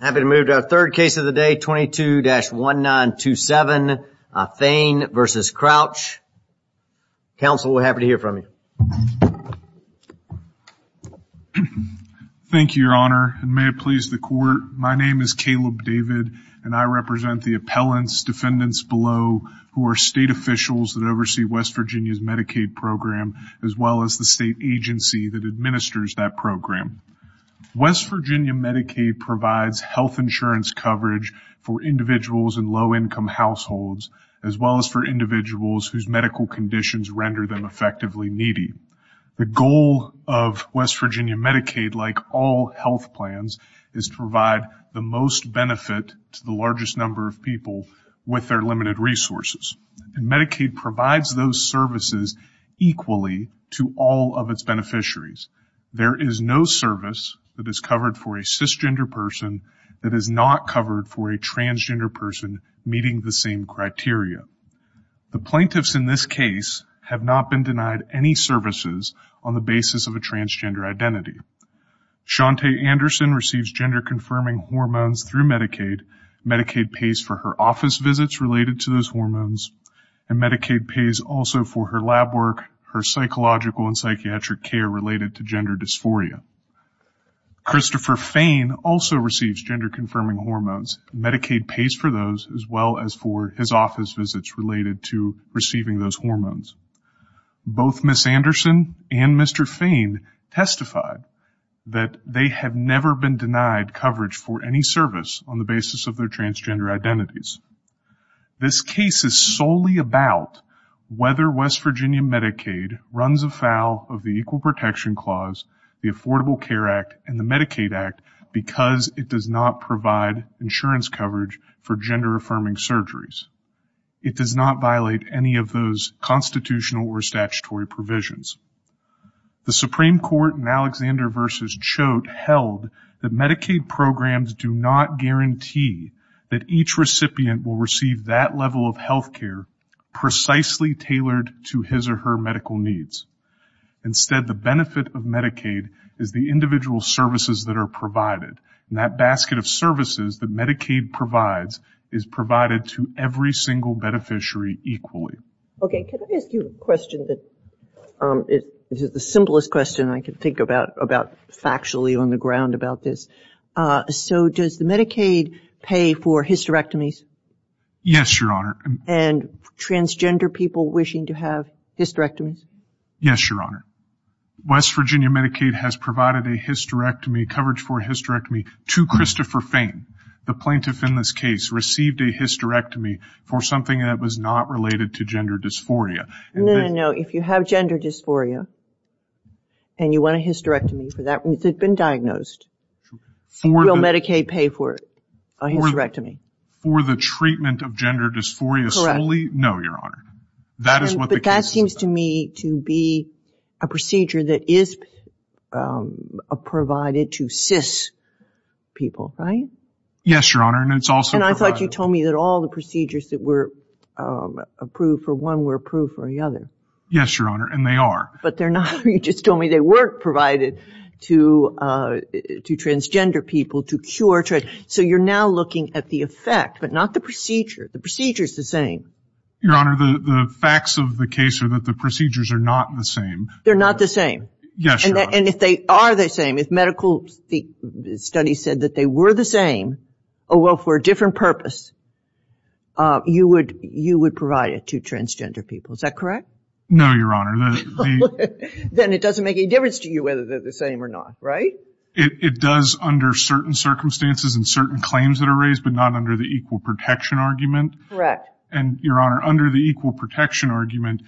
Happy to move to our third case of the day 22-1 9 2 7 Thane versus Crouch Council we're happy to hear from you Thank you your honor and may it please the court My name is Caleb David and I represent the appellants defendants below who are state officials that oversee West Virginia's Medicaid Program as well as the state agency that administers that program West Virginia Medicaid provides health insurance coverage for individuals in low-income households as well as for individuals whose medical conditions render them effectively needy the goal of West Virginia Medicaid like all health plans is to provide the most benefit to the largest number of people With their limited resources and Medicaid provides those services Equally to all of its beneficiaries There is no service that is covered for a cisgender person that is not covered for a transgender person meeting the same criteria The plaintiffs in this case have not been denied any services on the basis of a transgender identity Shantae Anderson receives gender-confirming hormones through Medicaid Medicaid pays for her office visits related to those hormones and Medicaid pays also for her lab work her psychological and psychiatric care related to gender dysphoria Christopher Fane also receives gender-confirming hormones Medicaid pays for those as well as for his office visits related to receiving those hormones Both miss Anderson and mr. Fane testified that they have never been denied coverage for any service on the basis of their transgender identities This case is solely about Whether West Virginia Medicaid runs afoul of the Equal Protection Clause The Affordable Care Act and the Medicaid Act because it does not provide insurance coverage for gender-affirming surgeries It does not violate any of those constitutional or statutory provisions The Supreme Court in Alexander versus Choate held that Medicaid programs do not guarantee That each recipient will receive that level of health care precisely tailored to his or her medical needs Instead the benefit of Medicaid is the individual services that are provided and that basket of services that Medicaid provides is Provided to every single beneficiary equally. Okay, can I ask you a question that? It is the simplest question I could think about about factually on the ground about this So does the Medicaid pay for hysterectomies? Yes, your honor and Transgender people wishing to have hysterectomies. Yes, your honor West Virginia Medicaid has provided a hysterectomy coverage for hysterectomy to Christopher Fane The plaintiff in this case received a hysterectomy for something that was not related to gender dysphoria No, no, if you have gender dysphoria And you want a hysterectomy for that, it's been diagnosed Will Medicaid pay for a hysterectomy? For the treatment of gender dysphoria solely? No, your honor. That is what the case is about. But that seems to me to be a procedure that is Provided to cis People, right? Yes, your honor, and it's also. And I thought you told me that all the procedures that were Approved for one were approved for the other. Yes, your honor, and they are. But they're not. You just told me they weren't provided to To transgender people to cure. So you're now looking at the effect, but not the procedure. The procedure is the same Your honor, the facts of the case are that the procedures are not the same. They're not the same Yes, and if they are the same if medical Studies said that they were the same. Oh well for a different purpose You would you would provide it to transgender people, is that correct? No, your honor Then it doesn't make any difference to you whether they're the same or not, right? It does under certain circumstances and certain claims that are raised but not under the equal protection argument Correct. And your honor, under the equal protection argument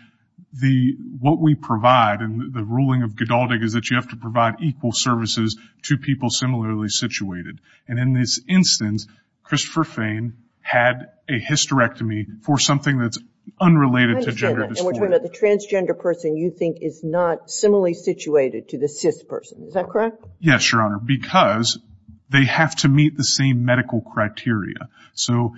The what we provide and the ruling of Godaldig is that you have to provide equal services to people similarly Situated and in this instance Christopher Fain had a hysterectomy for something that's unrelated to gender Transgender person you think is not similarly situated to the CIS person. Is that correct? Yes, your honor because They have to meet the same medical criteria. So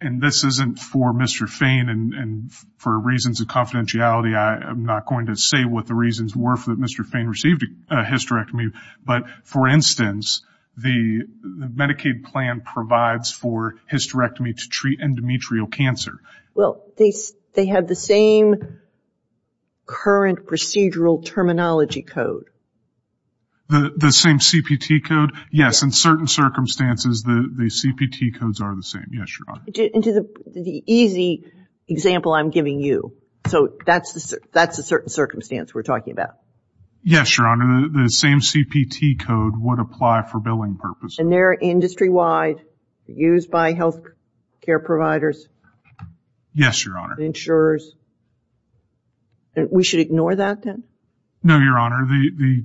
and this isn't for mr. Fain and For reasons of confidentiality. I am NOT going to say what the reasons were for that. Mr Fain received a hysterectomy but for instance The Medicaid plan provides for hysterectomy to treat endometrial cancer. Well, they they have the same Current procedural terminology code The the same CPT code. Yes in certain circumstances the the CPT codes are the same. Yes, your honor. The easy Example I'm giving you so that's the that's a certain circumstance. We're talking about Yes, your honor the same CPT code would apply for billing purpose and they're industry-wide used by health care providers Yes, your honor insurers We should ignore that then no your honor the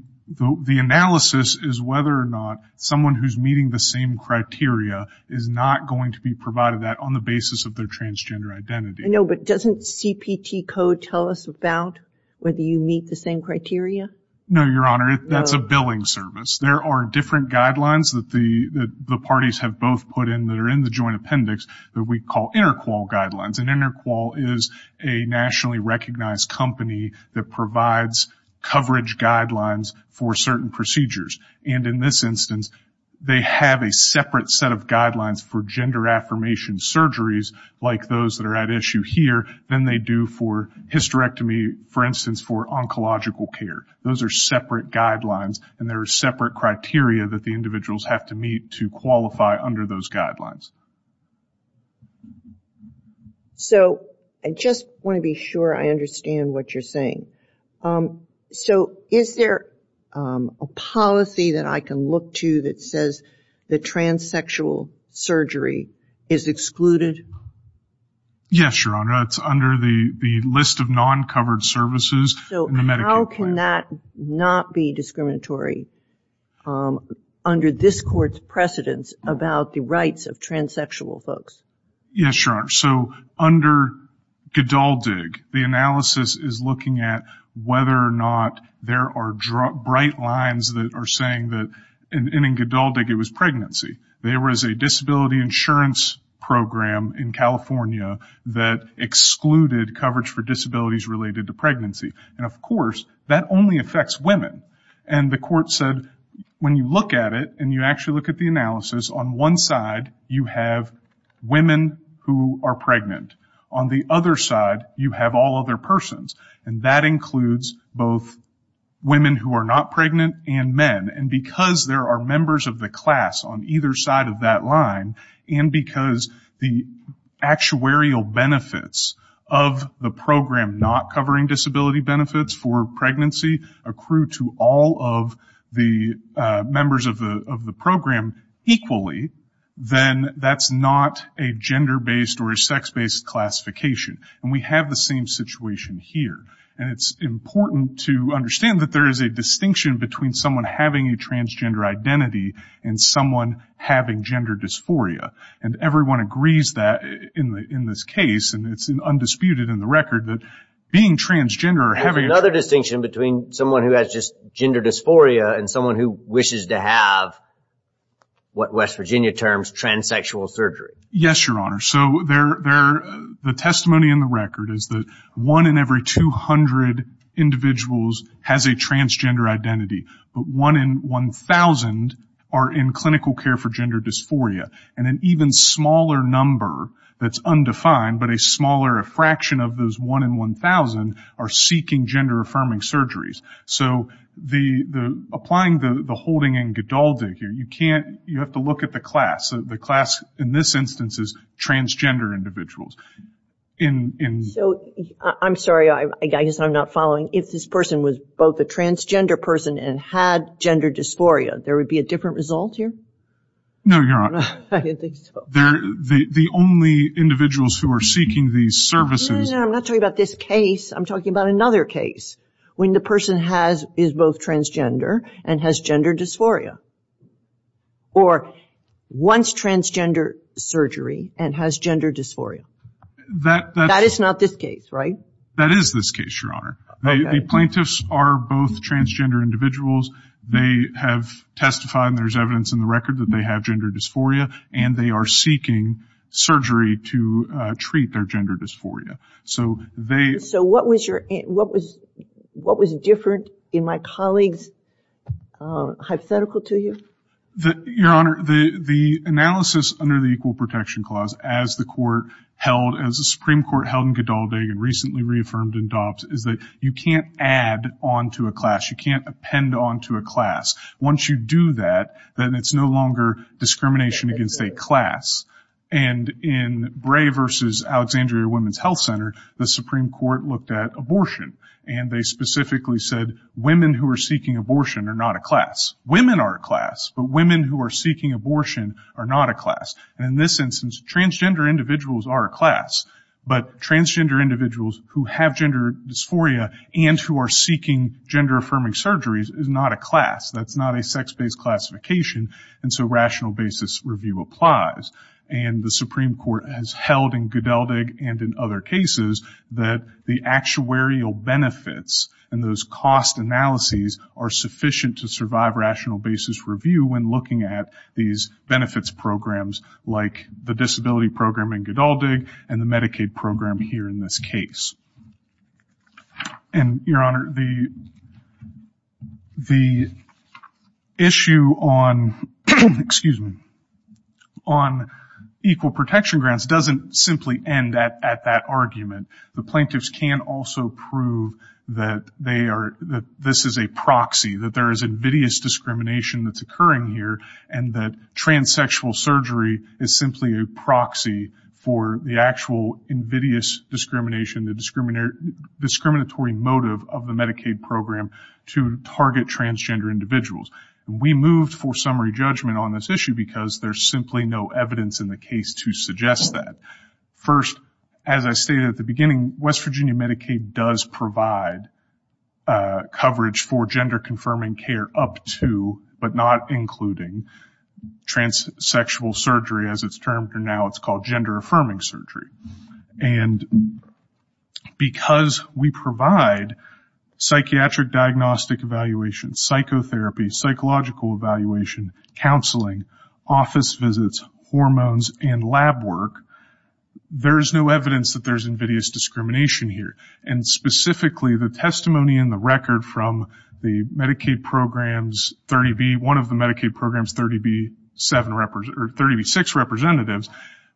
The analysis is whether or not someone who's meeting the same criteria Is not going to be provided that on the basis of their transgender identity No, but doesn't CPT code tell us about whether you meet the same criteria? No, your honor That's a billing service There are different guidelines that the the parties have both put in that are in the joint appendix that we call interqual Guidelines and interqual is a nationally recognized company that provides coverage guidelines for certain procedures and in this instance They have a separate set of guidelines for gender affirmation surgeries like those that are at issue here than they do for Hysterectomy for instance for oncological care Those are separate guidelines and there are separate criteria that the individuals have to meet to qualify under those guidelines So I just want to be sure I understand what you're saying so is there a Policy that I can look to that says the transsexual surgery is excluded Yes, your honor. It's under the the list of non-covered services. So how can that not be discriminatory? Under this court's precedence about the rights of transsexual folks. Yes, your honor. So under Gdaldig the analysis is looking at whether or not there are bright lines that are saying that In Gdaldig it was pregnancy. There was a disability insurance program in California that Excluded coverage for disabilities related to pregnancy and of course that only affects women and the court said When you look at it, and you actually look at the analysis on one side you have Women who are pregnant on the other side you have all other persons and that includes both women who are not pregnant and men and because there are members of the class on either side of that line and because the actuarial benefits of the program not covering disability benefits for pregnancy accrue to all of the members of the of the program Equally then that's not a gender-based or a sex-based classification and we have the same situation here and it's important to understand that there is a distinction between someone having a transgender identity and someone having gender dysphoria and everyone agrees that in the in this case and it's an Undisputed in the record that being transgender or having another distinction between someone who has just gender dysphoria and someone who wishes to have What West Virginia terms transsexual surgery, yes, your honor So they're there the testimony in the record is that one in every 200? Individuals has a transgender identity But one in one thousand are in clinical care for gender dysphoria and an even smaller number That's undefined but a smaller a fraction of those one in one thousand are seeking gender affirming surgeries So the the applying the the holding and Godal digger You can't you have to look at the class the class in this instance is transgender individuals in So, I'm sorry I guess I'm not following if this person was both a transgender person and had gender dysphoria. There would be a different result here No, your honor They're the only individuals who are seeking these services. I'm not talking about this case I'm talking about another case when the person has is both transgender and has gender dysphoria or once transgender surgery and has gender dysphoria That that is not this case, right? That is this case your honor. The plaintiffs are both transgender individuals They have testified there's evidence in the record that they have gender dysphoria and they are seeking Surgery to treat their gender dysphoria. So they so what was your what was what was different in my colleagues? Hypothetical to you the your honor the the analysis under the Equal Protection Clause as the court Held as a Supreme Court held in Godal dig and recently reaffirmed in DOPS is that you can't add on to a class You can't append on to a class once you do that, then it's no longer discrimination against a class and in Bray versus Alexandria Women's Health Center The Supreme Court looked at abortion and they specifically said women who are seeking abortion are not a class Women are a class but women who are seeking abortion are not a class and in this instance transgender individuals are a class But transgender individuals who have gender dysphoria and who are seeking gender-affirming surgeries is not a class that's not a sex-based classification and so rational basis review applies and The Supreme Court has held in good Eldig and in other cases that the actuarial Benefits and those cost analyses are sufficient to survive rational basis review when looking at these Benefits programs like the disability program in good all dig and the Medicaid program here in this case and your honor the The Issue on excuse me on Equal protection grants doesn't simply end at that argument The plaintiffs can also prove that they are that this is a proxy that there is invidious Discrimination that's occurring here and that transsexual surgery is simply a proxy for the actual invidious discrimination the discriminator Discriminatory motive of the Medicaid program to target transgender individuals We moved for summary judgment on this issue because there's simply no evidence in the case to suggest that First as I stated at the beginning, West Virginia Medicaid does provide Coverage for gender confirming care up to but not including Transsexual surgery as it's termed or now it's called gender-affirming surgery and Because we provide psychiatric diagnostic evaluation psychotherapy psychological evaluation counseling office visits hormones and lab work there is no evidence that there's invidious discrimination here and Specifically the testimony in the record from the Medicaid programs 30 be one of the Medicaid programs 30 be 7 represent or 30 be 6 representatives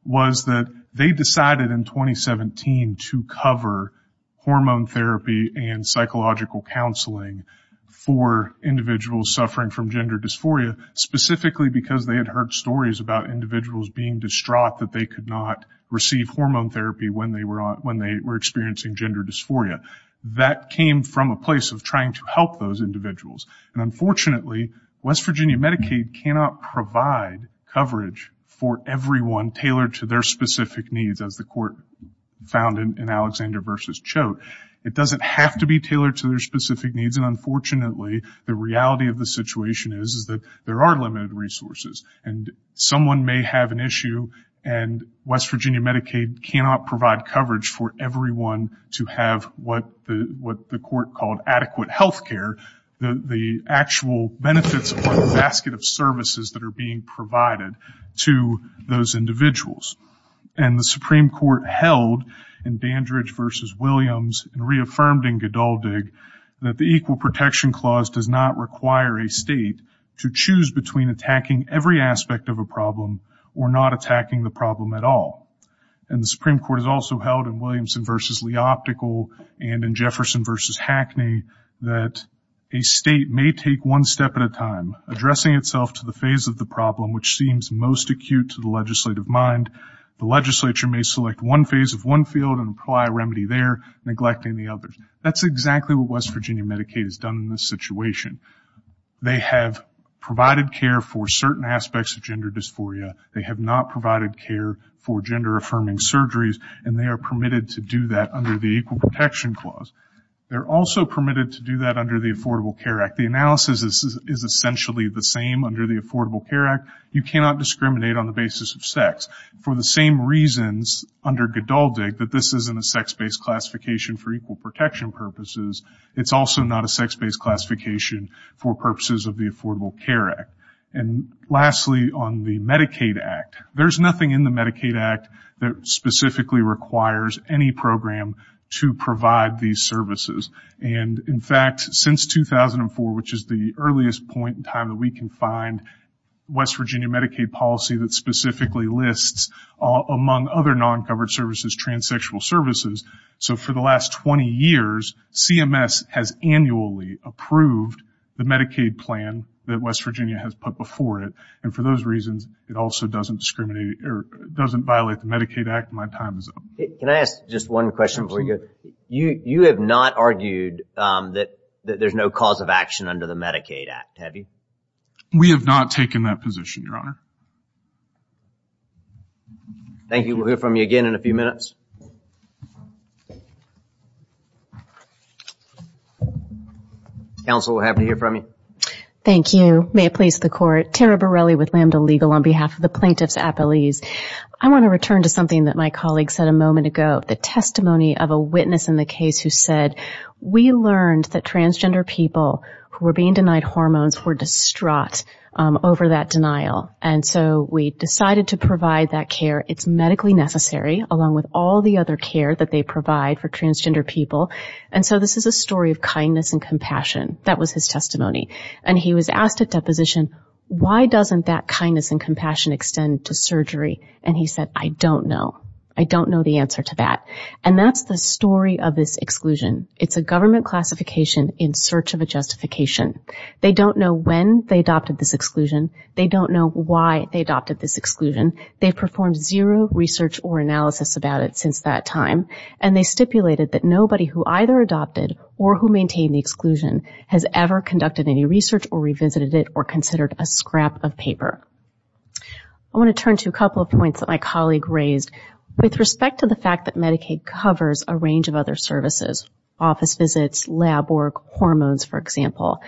was that they decided in 2017 to cover hormone therapy and psychological counseling for individuals suffering from gender dysphoria specifically because they had heard stories about Individuals being distraught that they could not receive hormone therapy when they were on when they were experiencing gender dysphoria That came from a place of trying to help those individuals and unfortunately West Virginia Medicaid cannot provide Coverage for everyone tailored to their specific needs as the court Found in Alexander versus Choate. It doesn't have to be tailored to their specific needs and unfortunately, the reality of the situation is is that there are limited resources and someone may have an issue and West Virginia Medicaid cannot provide coverage for everyone to have what the what the court called adequate health care The the actual benefits or the basket of services that are being provided to those individuals And the Supreme Court held in Dandridge versus Williams reaffirmed in Godal dig that the equal protection clause does not require a state to choose between attacking every aspect of a problem or not attacking the problem at all and the Supreme Court has also held in Williamson versus Lee optical and in Jefferson versus Hackney that A state may take one step at a time Addressing itself to the phase of the problem, which seems most acute to the legislative mind The legislature may select one phase of one field and apply a remedy there neglecting the others That's exactly what West Virginia Medicaid has done in this situation They have provided care for certain aspects of gender dysphoria They have not provided care for gender affirming surgeries and they are permitted to do that under the equal protection clause They're also permitted to do that under the Affordable Care Act The analysis is essentially the same under the Affordable Care Act You cannot discriminate on the basis of sex for the same reasons under Godal dig that this isn't a sex-based classification for equal protection purposes it's also not a sex-based classification for purposes of the Affordable Care Act and Lastly on the Medicaid Act. There's nothing in the Medicaid Act that Specifically requires any program to provide these services and in fact since 2004 which is the earliest point in time that we can find West Virginia Medicaid policy that specifically lists among other non-covered services transsexual services So for the last 20 years CMS has annually approved the Medicaid plan that West Virginia has put before it and for those reasons It also doesn't discriminate or doesn't violate the Medicaid Act my time is up Can I ask just one question for you? You you have not argued that that there's no cause of action under the Medicaid Act. Have you? We have not taken that position your honor Thank you, we'll hear from you again in a few minutes I Also have to hear from you Thank you. May it please the court Tara Borelli with lambda legal on behalf of the plaintiffs a police I want to return to something that my colleague said a moment ago the testimony of a witness in the case who said We learned that transgender people who were being denied hormones were distraught Over that denial and so we decided to provide that care It's medically necessary along with all the other care that they provide for transgender people And so this is a story of kindness and compassion. That was his testimony and he was asked at deposition Why doesn't that kindness and compassion extend to surgery and he said I don't know I don't know the answer to that and that's the story of this exclusion. It's a government classification in search of a justification They don't know when they adopted this exclusion, they don't know why they adopted this exclusion they've performed zero research or analysis about it since that time and they stipulated that nobody who either adopted or who maintained the Exclusion has ever conducted any research or revisited it or considered a scrap of paper. I Want to turn to a couple of points that my colleague raised With respect to the fact that Medicaid covers a range of other services office visits lab work hormones for example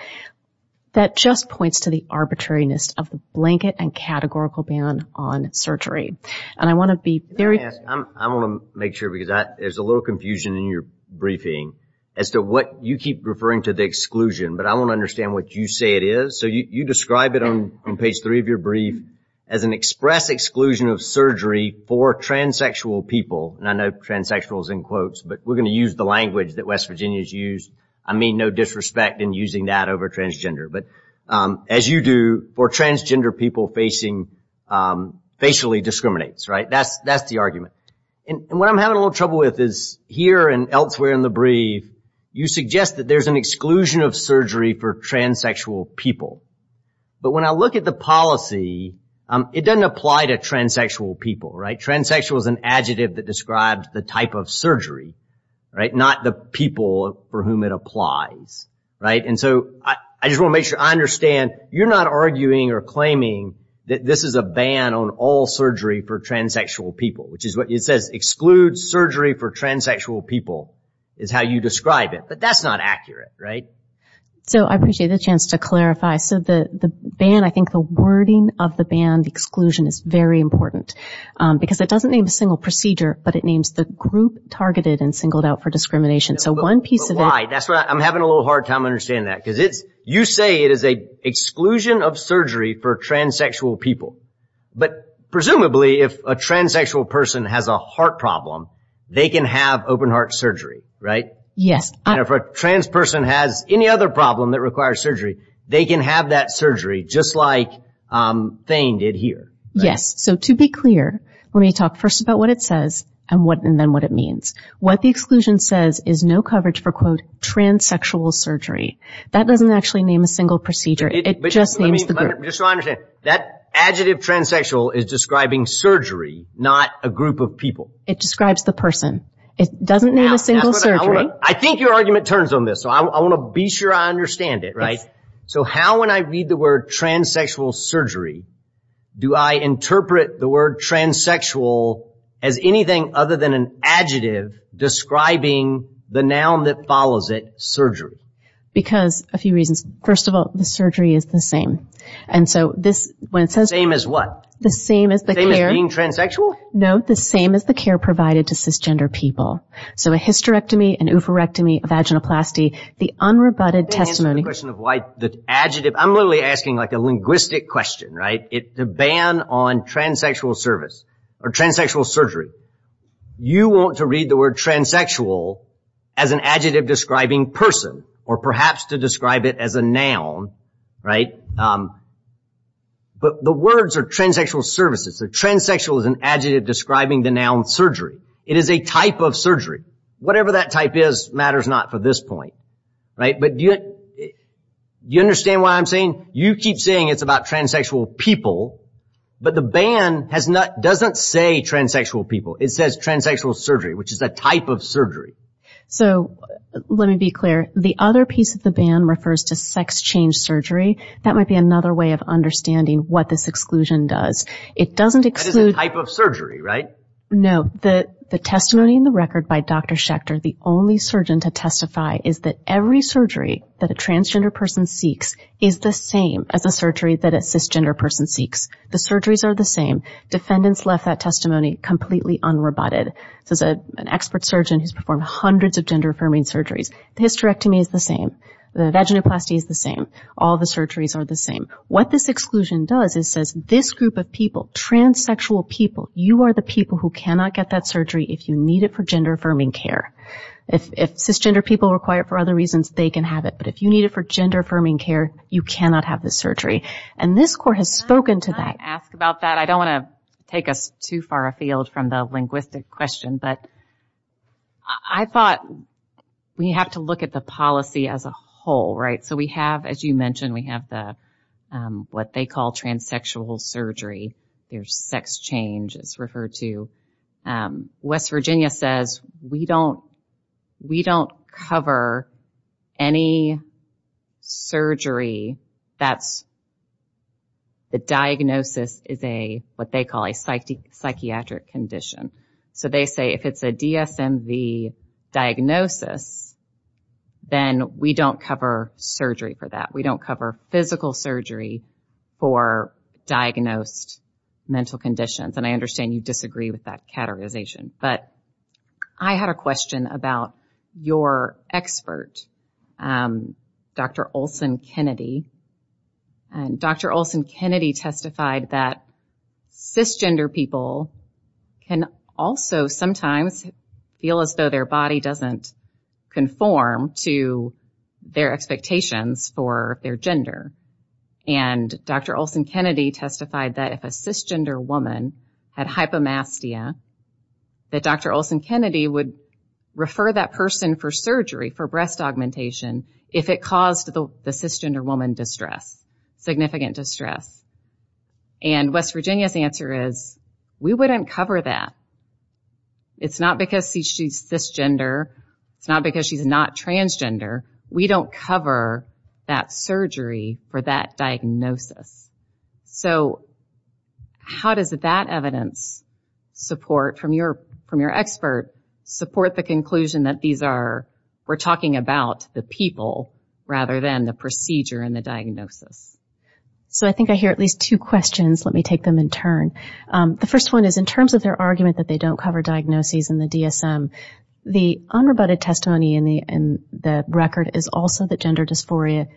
That just points to the arbitrariness of the blanket and categorical ban on surgery and I want to be very I Want to make sure because that there's a little confusion in your briefing as to what you keep referring to the exclusion But I want to understand what you say it is So you describe it on page three of your brief as an express exclusion of surgery for transsexual people And I know transsexuals in quotes, but we're going to use the language that West Virginia's used I mean no disrespect in using that over transgender, but as you do for transgender people facing Facially discriminates right? That's that's the argument and what I'm having a little trouble with is here and elsewhere in the brief You suggest that there's an exclusion of surgery for transsexual people But when I look at the policy It doesn't apply to transsexual people right transsexual is an adjective that describes the type of surgery Right not the people for whom it applies Right, and so I just want to make sure I understand you're not arguing or claiming that This is a ban on all surgery for transsexual people Which is what it says exclude surgery for transsexual people is how you describe it, but that's not accurate, right? So I appreciate the chance to clarify so the the ban I think the wording of the band exclusion is very important because it doesn't name a single procedure But it names the group targeted and singled out for discrimination so one piece of why that's what I'm having a little hard time Understand that because it's you say it is a exclusion of surgery for transsexual people But presumably if a transsexual person has a heart problem. They can have open heart surgery, right? Yes, if a trans person has any other problem that requires surgery they can have that surgery just like Thane did here yes, so to be clear when we talk first about what it says And what and then what it means what the exclusion says is no coverage for quote Transsexual surgery that doesn't actually name a single procedure it That adjective transsexual is describing surgery not a group of people it describes the person It doesn't mean a single surgery. I think your argument turns on this so I want to be sure I understand it, right So how when I read the word transsexual surgery? Do I interpret the word? Transsexual as anything other than an adjective Describing the noun that follows it surgery because a few reasons first of all the surgery is the same And so this when it's the same as what the same is that they're being transsexual No, the same as the care provided to cisgender people so a hysterectomy and oophorectomy Vaginoplasty the unrebutted testimony question of why the adjective I'm really asking like a linguistic question right it to ban on transsexual service or transsexual surgery You want to read the word transsexual as an adjective describing person or perhaps to describe it as a noun right? But the words are transsexual services the transsexual is an adjective describing the noun surgery It is a type of surgery whatever that type is matters not for this point right, but do it You understand why I'm saying you keep saying it's about transsexual people But the ban has not doesn't say transsexual people it says transsexual surgery, which is a type of surgery so Let me be clear the other piece of the ban refers to sex change surgery that might be another way of Understanding what this exclusion does it doesn't exclude type of surgery right? No, the the testimony in the record by dr. Schecter the only surgeon to testify is that every surgery that a transgender person seeks is the same as a surgery that a Cisgender person seeks the surgeries are the same defendants left that testimony completely unrebutted This is a an expert surgeon who's performed hundreds of gender-affirming surgeries the hysterectomy is the same The vaginoplasty is the same all the surgeries are the same what this exclusion does is says this group of people Transsexual people you are the people who cannot get that surgery if you need it for gender-affirming care If cisgender people require for other reasons they can have it But if you need it for gender-affirming care you cannot have the surgery and this court has spoken to that ask about that I don't want to take us too far afield from the linguistic question, but I thought We have to look at the policy as a whole right so we have as you mentioned we have the What they call transsexual surgery, there's sex change is referred to West Virginia says we don't we don't cover any Surgery that's The diagnosis is a what they call a psyche psychiatric condition, so they say if it's a DSM V diagnosis Then we don't cover surgery for that. We don't cover physical surgery for diagnosed Mental conditions, and I understand you disagree with that categorization, but I had a question about your expert Dr.. Olson Kennedy and Dr.. Olson Kennedy testified that Cisgender people Can also sometimes feel as though their body doesn't conform to their expectations for their gender and Dr.. Olson Kennedy testified that if a cisgender woman had hypomastia That dr. Olson Kennedy would refer that person for surgery for breast augmentation if it caused the cisgender woman distress significant distress and West Virginia's answer is we wouldn't cover that It's not because she's cisgender It's not because she's not transgender. We don't cover that surgery for that diagnosis so How does that evidence? Support from your from your expert support the conclusion that these are we're talking about the people Rather than the procedure and the diagnosis So I think I hear at least two questions Let me take them in turn the first one is in terms of their argument that they don't cover diagnoses in the DSM The unrebutted testimony in the and the record is also that gender dysphoria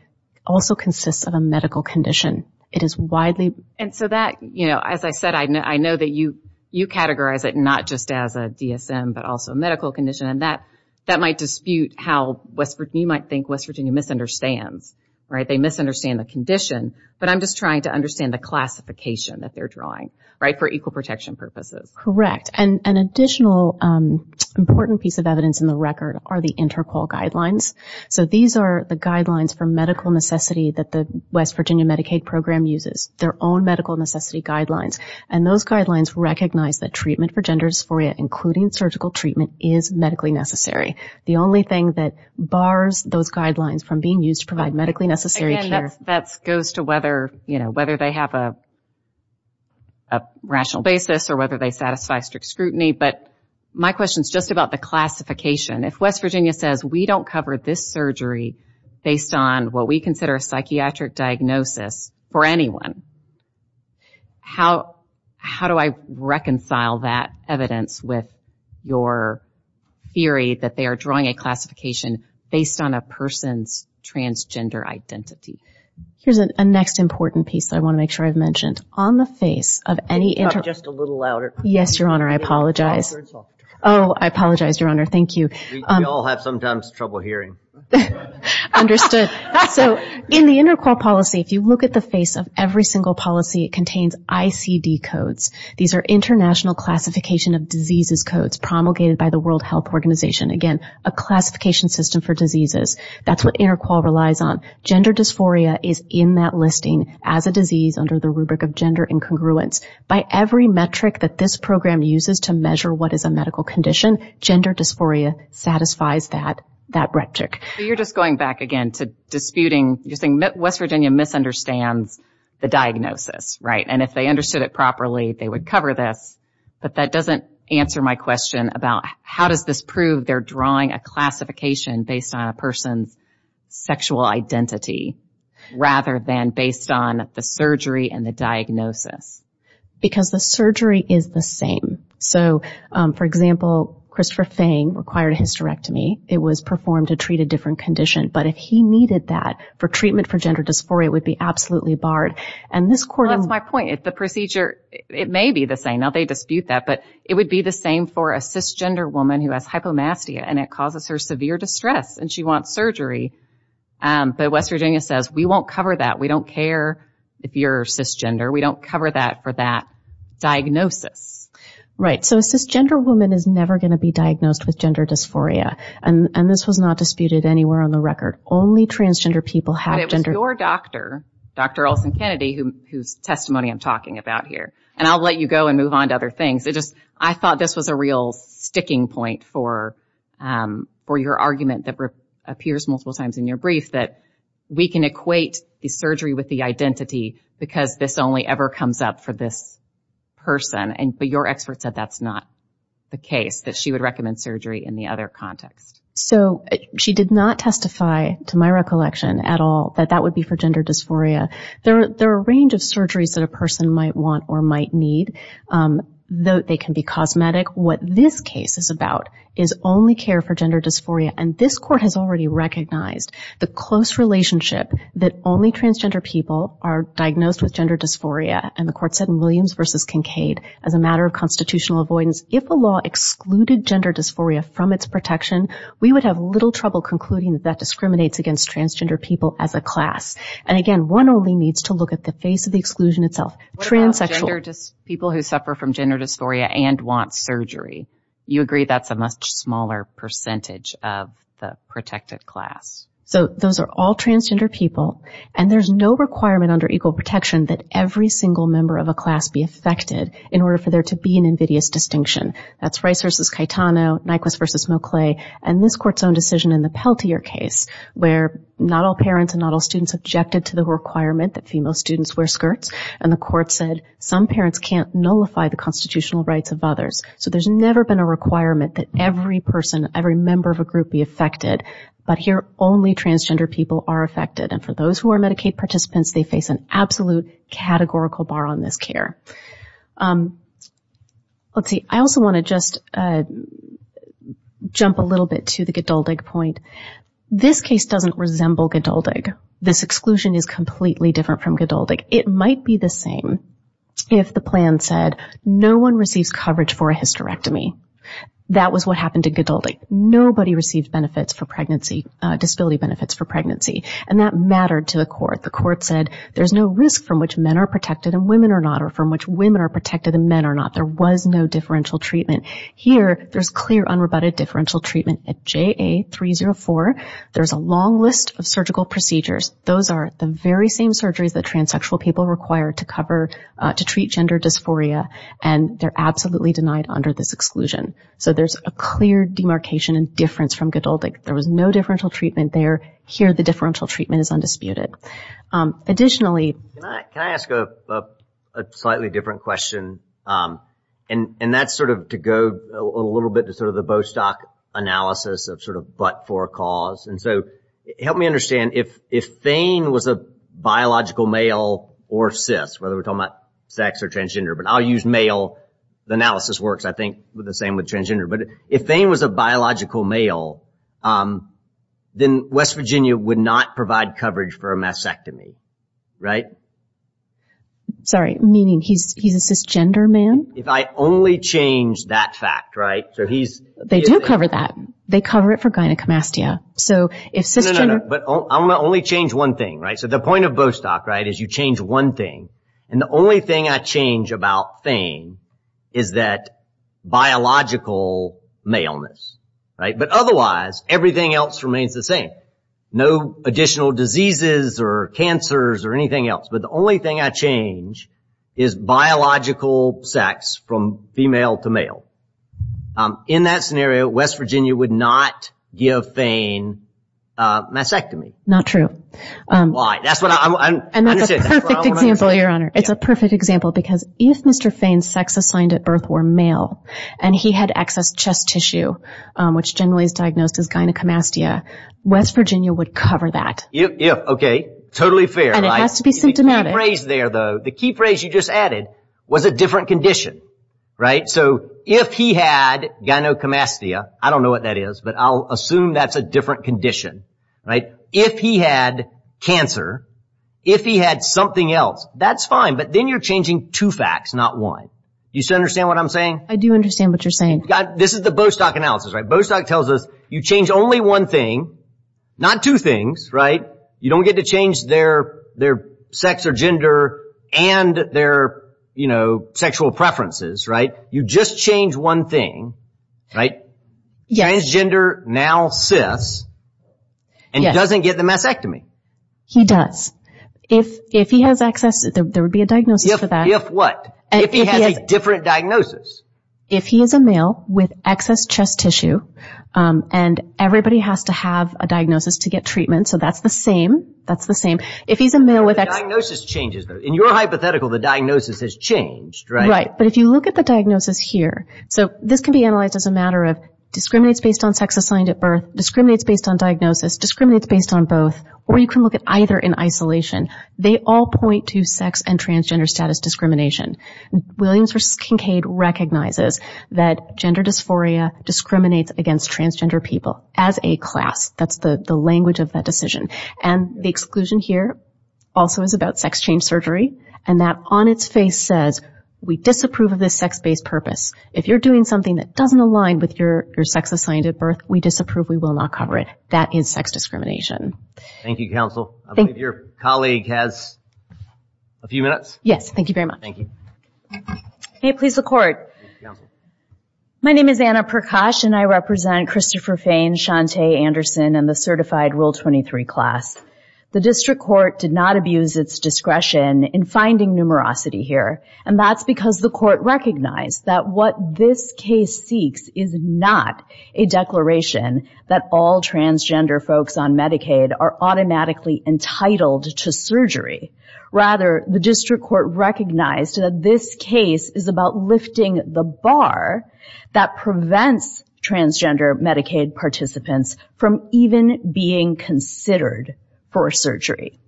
Also consists of a medical condition It is widely and so that you know as I said I know I know that you you categorize it Not just as a DSM But also a medical condition and that that might dispute how Westford you might think West Virginia misunderstands, right? They misunderstand the condition, but I'm just trying to understand the classification that they're drawing right for equal protection purposes, correct and an additional Important piece of evidence in the record are the interpol guidelines So these are the guidelines for medical necessity that the West Virginia Medicaid program uses their own medical necessity Guidelines and those guidelines recognize that treatment for gender dysphoria including surgical treatment is medically necessary The only thing that bars those guidelines from being used to provide medically necessary care that's goes to whether you know whether they have a Rational basis or whether they satisfy strict scrutiny, but my question is just about the classification if West Virginia says we don't cover this surgery Based on what we consider a psychiatric diagnosis for anyone How how do I reconcile that evidence with your? Theory that they are drawing a classification based on a person's Transgender identity. Here's a next important piece I want to make sure I've mentioned on the face of any inter just a little louder. Yes, your honor. I apologize. Oh I apologize your honor. Thank you. Y'all have sometimes trouble hearing Understood so in the interpol policy if you look at the face of every single policy it contains ICD codes These are international classification of diseases codes promulgated by the World Health Organization again a classification system for diseases That's what interpol relies on Gender dysphoria is in that listing as a disease under the rubric of gender incongruence By every metric that this program uses to measure what is a medical condition gender dysphoria satisfies that that metric You're just going back again to disputing you think West Virginia Misunderstands the diagnosis right and if they understood it properly they would cover this But that doesn't answer my question about how does this prove they're drawing a classification based on a person's sexual identity Rather than based on the surgery and the diagnosis Because the surgery is the same So for example Christopher Fang required a hysterectomy it was performed to treat a different condition But if he needed that for treatment for gender dysphoria would be absolutely barred and this court That's my point if the procedure it may be the same now They dispute that but it would be the same for a cisgender woman who has hypomastia, and it causes her severe distress And she wants surgery But West Virginia says we won't cover that we don't care if you're cisgender. We don't cover that for that diagnosis Right so a cisgender woman is never going to be diagnosed with gender dysphoria And and this was not disputed anywhere on the record only transgender people have gender your doctor dr. Olson Kennedy whose testimony I'm talking about here, and I'll let you go and move on to other things It just I thought this was a real sticking point for for your argument that Appears multiple times in your brief that we can equate the surgery with the identity because this only ever comes up for this Person and but your expert said that's not the case that she would recommend surgery in the other context So she did not testify to my recollection at all that that would be for gender dysphoria There are a range of surgeries that a person might want or might need Though they can be cosmetic what this case is about is only care for gender dysphoria And this court has already recognized the close relationship that only transgender people are Diagnosed with gender dysphoria and the court said in Williams versus Kincaid as a matter of constitutional avoidance if a law excluded gender dysphoria from its protection We would have little trouble concluding that that discriminates against transgender people as a class and again one only needs to look at the face of the exclusion itself Transgender just people who suffer from gender dysphoria and want surgery you agree That's a much smaller percentage of the protected class So those are all transgender people And there's no requirement under equal protection that every single member of a class be affected in order for there to be an invidious Distinction that's rice versus Caetano Nyquist versus Mowclay and this court's own decision in the Peltier case Where not all parents and not all students objected to the requirement that female students wear skirts and the court said some parents can't nullify The constitutional rights of others so there's never been a requirement that every person every member of a group be affected But here only transgender people are affected and for those who are Medicaid participants they face an absolute categorical bar on this care Let's see I also want to just Jump a little bit to the good old egg point This case doesn't resemble good old egg this exclusion is completely different from good old egg It might be the same if the plan said no one receives coverage for a hysterectomy That was what happened to good old egg nobody received benefits for pregnancy Disability benefits for pregnancy and that mattered to the court the court said there's no risk from which men are protected and women are not Or from which women are protected and men are not there was no differential treatment here There's clear unrebutted differential treatment at JA 304. There's a long list of surgical procedures Those are the very same surgeries that transsexual people require to cover to treat gender dysphoria And they're absolutely denied under this exclusion, so there's a clear demarcation and difference from good old egg There was no differential treatment there here the differential treatment is undisputed additionally Slightly different question and and that's sort of to go a little bit to sort of the Bostock analysis of sort of but for cause and so help me understand if if Thane was a Transgender, but I'll use male the analysis works. I think with the same with transgender, but if Thane was a biological male Then West Virginia would not provide coverage for a mastectomy right Sorry meaning he's he's a cisgender man if I only change that fact right so he's they don't cover that They cover it for gynecomastia So if system, but I'm gonna only change one thing right so the point of Bostock Right as you change one thing and the only thing I change about Thane is that? Maleness right, but otherwise everything else remains the same no additional diseases or cancers or anything else But the only thing I change is biological sex from female to male In that scenario West Virginia would not give Thane Mastectomy not true Your honor it's a perfect example because if mr. Fane sex assigned at birth were male, and he had excess chest tissue Which generally is diagnosed as gynecomastia West Virginia would cover that yeah, okay, totally fair And it has to be symptomatic raised there though the key phrase you just added was a different condition Right so if he had Gynecomastia, I don't know what that is, but I'll assume. That's a different condition right if he had Cancer if he had something else, that's fine, but then you're changing two facts Not one you understand what I'm saying. I do understand what you're saying This is the Bostock analysis right Bostock tells us you change only one thing Not two things right you don't get to change their their sex or gender and their you know Sexual preferences right you just change one thing right yes gender now sis and Doesn't get the mastectomy he does if if he has access there would be a diagnosis for that If what if he has a different diagnosis if he is a male with excess chest tissue And everybody has to have a diagnosis to get treatment, so that's the same That's the same if he's a male with a diagnosis changes in your hypothetical the diagnosis has changed Right, but if you look at the diagnosis here So this can be analyzed as a matter of discriminates based on sex assigned at birth discriminates based on diagnosis Discriminates based on both or you can look at either in isolation. They all point to sex and transgender status discrimination Williams versus Kincaid recognizes that gender dysphoria Discriminates against transgender people as a class that's the the language of that decision and the exclusion here Also is about sex change surgery and that on its face says We disapprove of this sex based purpose if you're doing something that doesn't align with your your sex assigned at birth We disapprove. We will not cover it that is sex discrimination Thank you counsel. Thank your colleague has a Few minutes yes, thank you very much. Thank you Hey, please the court My name is Anna Prakash, and I represent Christopher Fain Shantae Anderson and the certified rule 23 class The district court did not abuse its discretion in finding numerosity here and that's because the court recognized that what this case seeks is not a Declaration that all transgender folks on Medicaid are automatically entitled to surgery Rather the district court recognized that this case is about lifting the bar that prevents transgender Medicaid participants from even being Considered for a surgery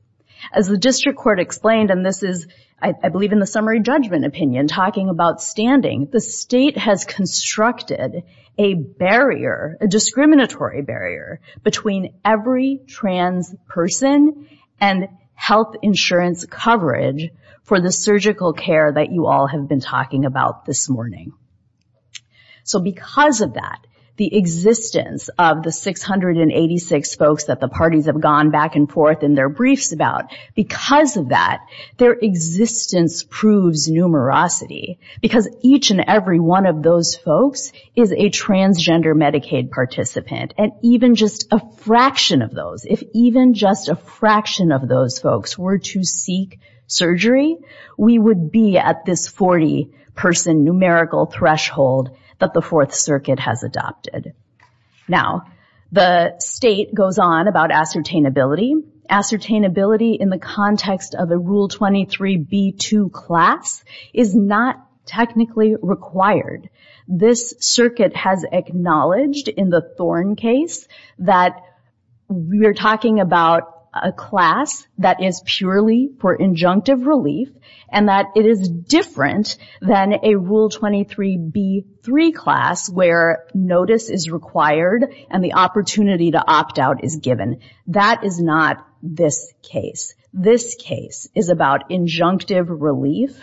as the district court explained and this is I believe in the summary judgment opinion talking about standing the state has constructed a barrier a discriminatory barrier between every trans person and Health insurance coverage for the surgical care that you all have been talking about this morning so because of that the existence of the 686 folks that the parties have gone back and forth in their briefs about because of that their existence proves Numerosity because each and every one of those folks is a transgender Medicaid Participant and even just a fraction of those if even just a fraction of those folks were to seek Surgery we would be at this 40 person numerical threshold that the Fourth Circuit has adopted Now the state goes on about ascertain ability ascertain ability in the context of the rule 23 b2 class is not technically required this circuit has acknowledged in the thorn case that we're talking about a class that is purely for injunctive relief and that it is different than a rule 23 b3 Class where notice is required and the opportunity to opt out is given that is not this case This case is about injunctive relief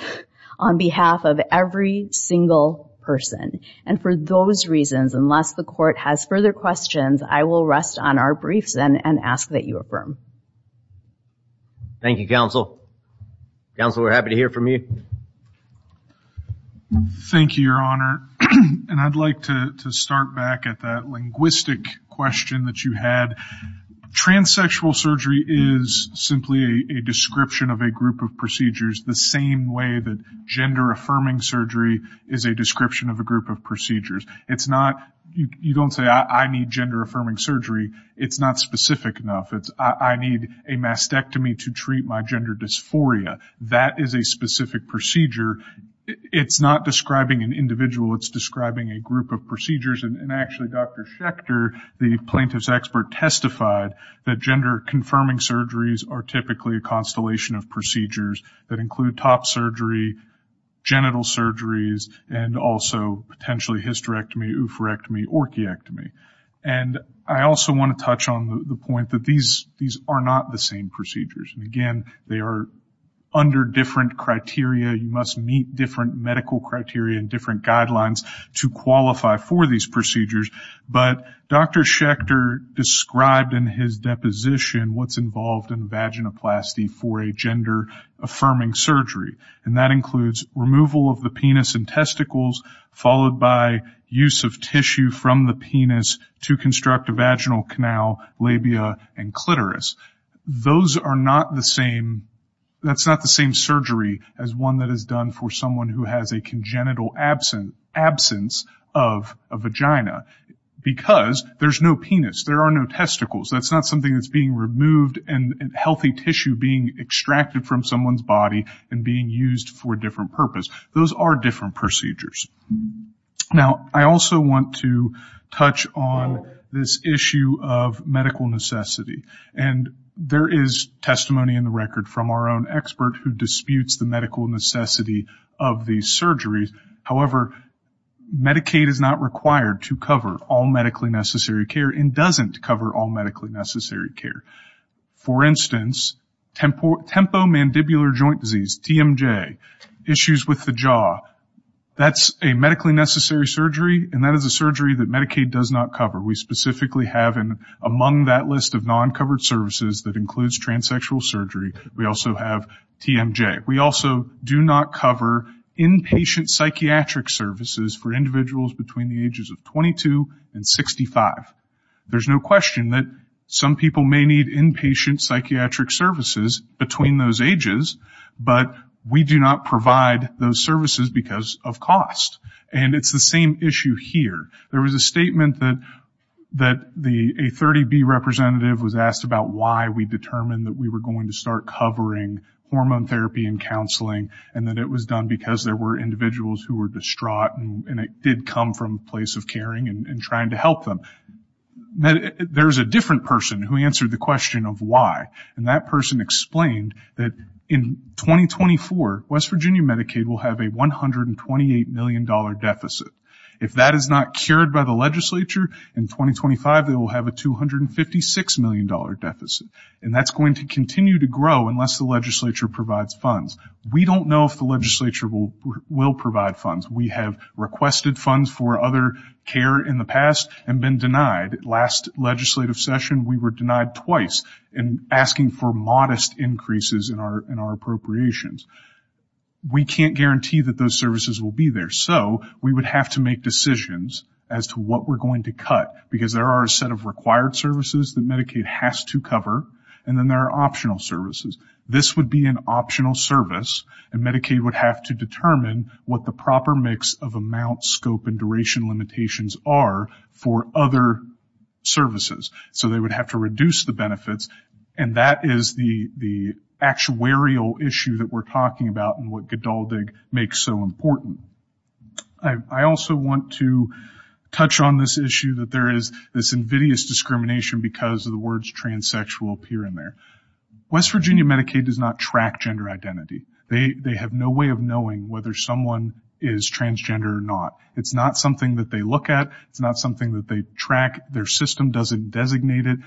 on behalf of every single Person and for those reasons unless the court has further questions. I will rest on our briefs and and ask that you affirm Thank You counsel counsel we're happy to hear from you Thank You your honor, and I'd like to start back at that linguistic question that you had transsexual surgery is Simply a description of a group of procedures the same way that gender affirming surgery is a description of a group of procedures It's not you don't say I need gender affirming surgery. It's not specific enough I need a mastectomy to treat my gender dysphoria. That is a specific procedure It's not describing an individual. It's describing a group of procedures and actually dr. Schecter the plaintiff's expert testified that gender confirming surgeries are typically a constellation of procedures That include top surgery genital surgeries and also potentially hysterectomy oophorectomy orchiectomy and I also want to touch on the point that these these are not the same procedures and again. They are Under different criteria you must meet different medical criteria and different guidelines to qualify for these procedures But dr. Schecter Described in his deposition what's involved in vaginoplasty for a gender? affirming surgery and that includes removal of the penis and testicles Followed by use of tissue from the penis to construct a vaginal canal labia and clitoris Those are not the same That's not the same surgery as one that is done for someone who has a congenital absent absence of a vagina Because there's no penis there are no testicles That's not something that's being removed and healthy tissue being extracted from someone's body and being used for a different purpose Those are different procedures now I also want to touch on this issue of medical necessity and There is testimony in the record from our own expert who disputes the medical necessity of these surgeries however Medicaid is not required to cover all medically necessary care and doesn't cover all medically necessary care for instance Tempo mandibular joint disease TMJ issues with the jaw That's a medically necessary surgery and that is a surgery that Medicaid does not cover We specifically have an among that list of non covered services that includes transsexual surgery. We also have TMJ We also do not cover inpatient psychiatric services for individuals between the ages of 22 and 65 There's no question that some people may need inpatient psychiatric services between those ages But we do not provide those services because of cost and it's the same issue here There was a statement that that the a 30 B representative was asked about why we determined that we were going to start covering hormone therapy and counseling and that it was done because there were Individuals who were distraught and it did come from a place of caring and trying to help them that there's a different person who answered the question of why and that person explained that in 2024 West Virginia Medicaid will have a 128 million dollar deficit if that is not cured by the legislature in 2025 they will have a 256 million dollar deficit and that's going to continue to grow unless the legislature provides funds We don't know if the legislature will will provide funds We have requested funds for other care in the past and been denied last legislative session We were denied twice in asking for modest increases in our in our appropriations We can't guarantee that those services will be there so we would have to make decisions as to what we're going to cut because there are a set of required services that Medicaid has To cover and then there are optional services This would be an optional service and Medicaid would have to determine what the proper mix of amount scope and duration limitations are for other services, so they would have to reduce the benefits and that is the the Actuarial issue that we're talking about and what good all dig makes so important. I also want to Touch on this issue that there is this invidious discrimination because of the words transsexual appear in there West Virginia Medicaid does not track gender identity. They they have no way of knowing whether someone is Transgender or not. It's not something that they look at. It's not something that they track their system doesn't designate it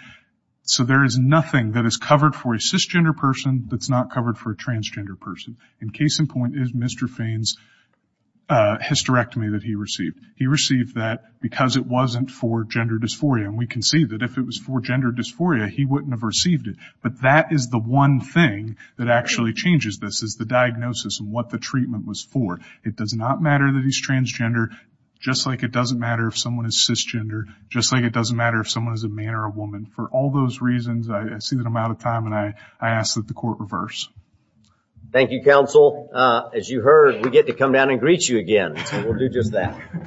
So there is nothing that is covered for a cisgender person. That's not covered for a transgender person in case in point is mr. Fane's Hysterectomy that he received he received that because it wasn't for gender dysphoria and we can see that if it was for gender dysphoria He wouldn't have received it But that is the one thing that actually changes this is the diagnosis and what the treatment was for it does not matter that he's Transgender just like it doesn't matter if someone is cisgender Just like it doesn't matter if someone is a man or a woman for all those reasons I see that I'm out of time and I I asked that the court reverse Thank You counsel as you heard we get to come down and greet you again, we'll do just that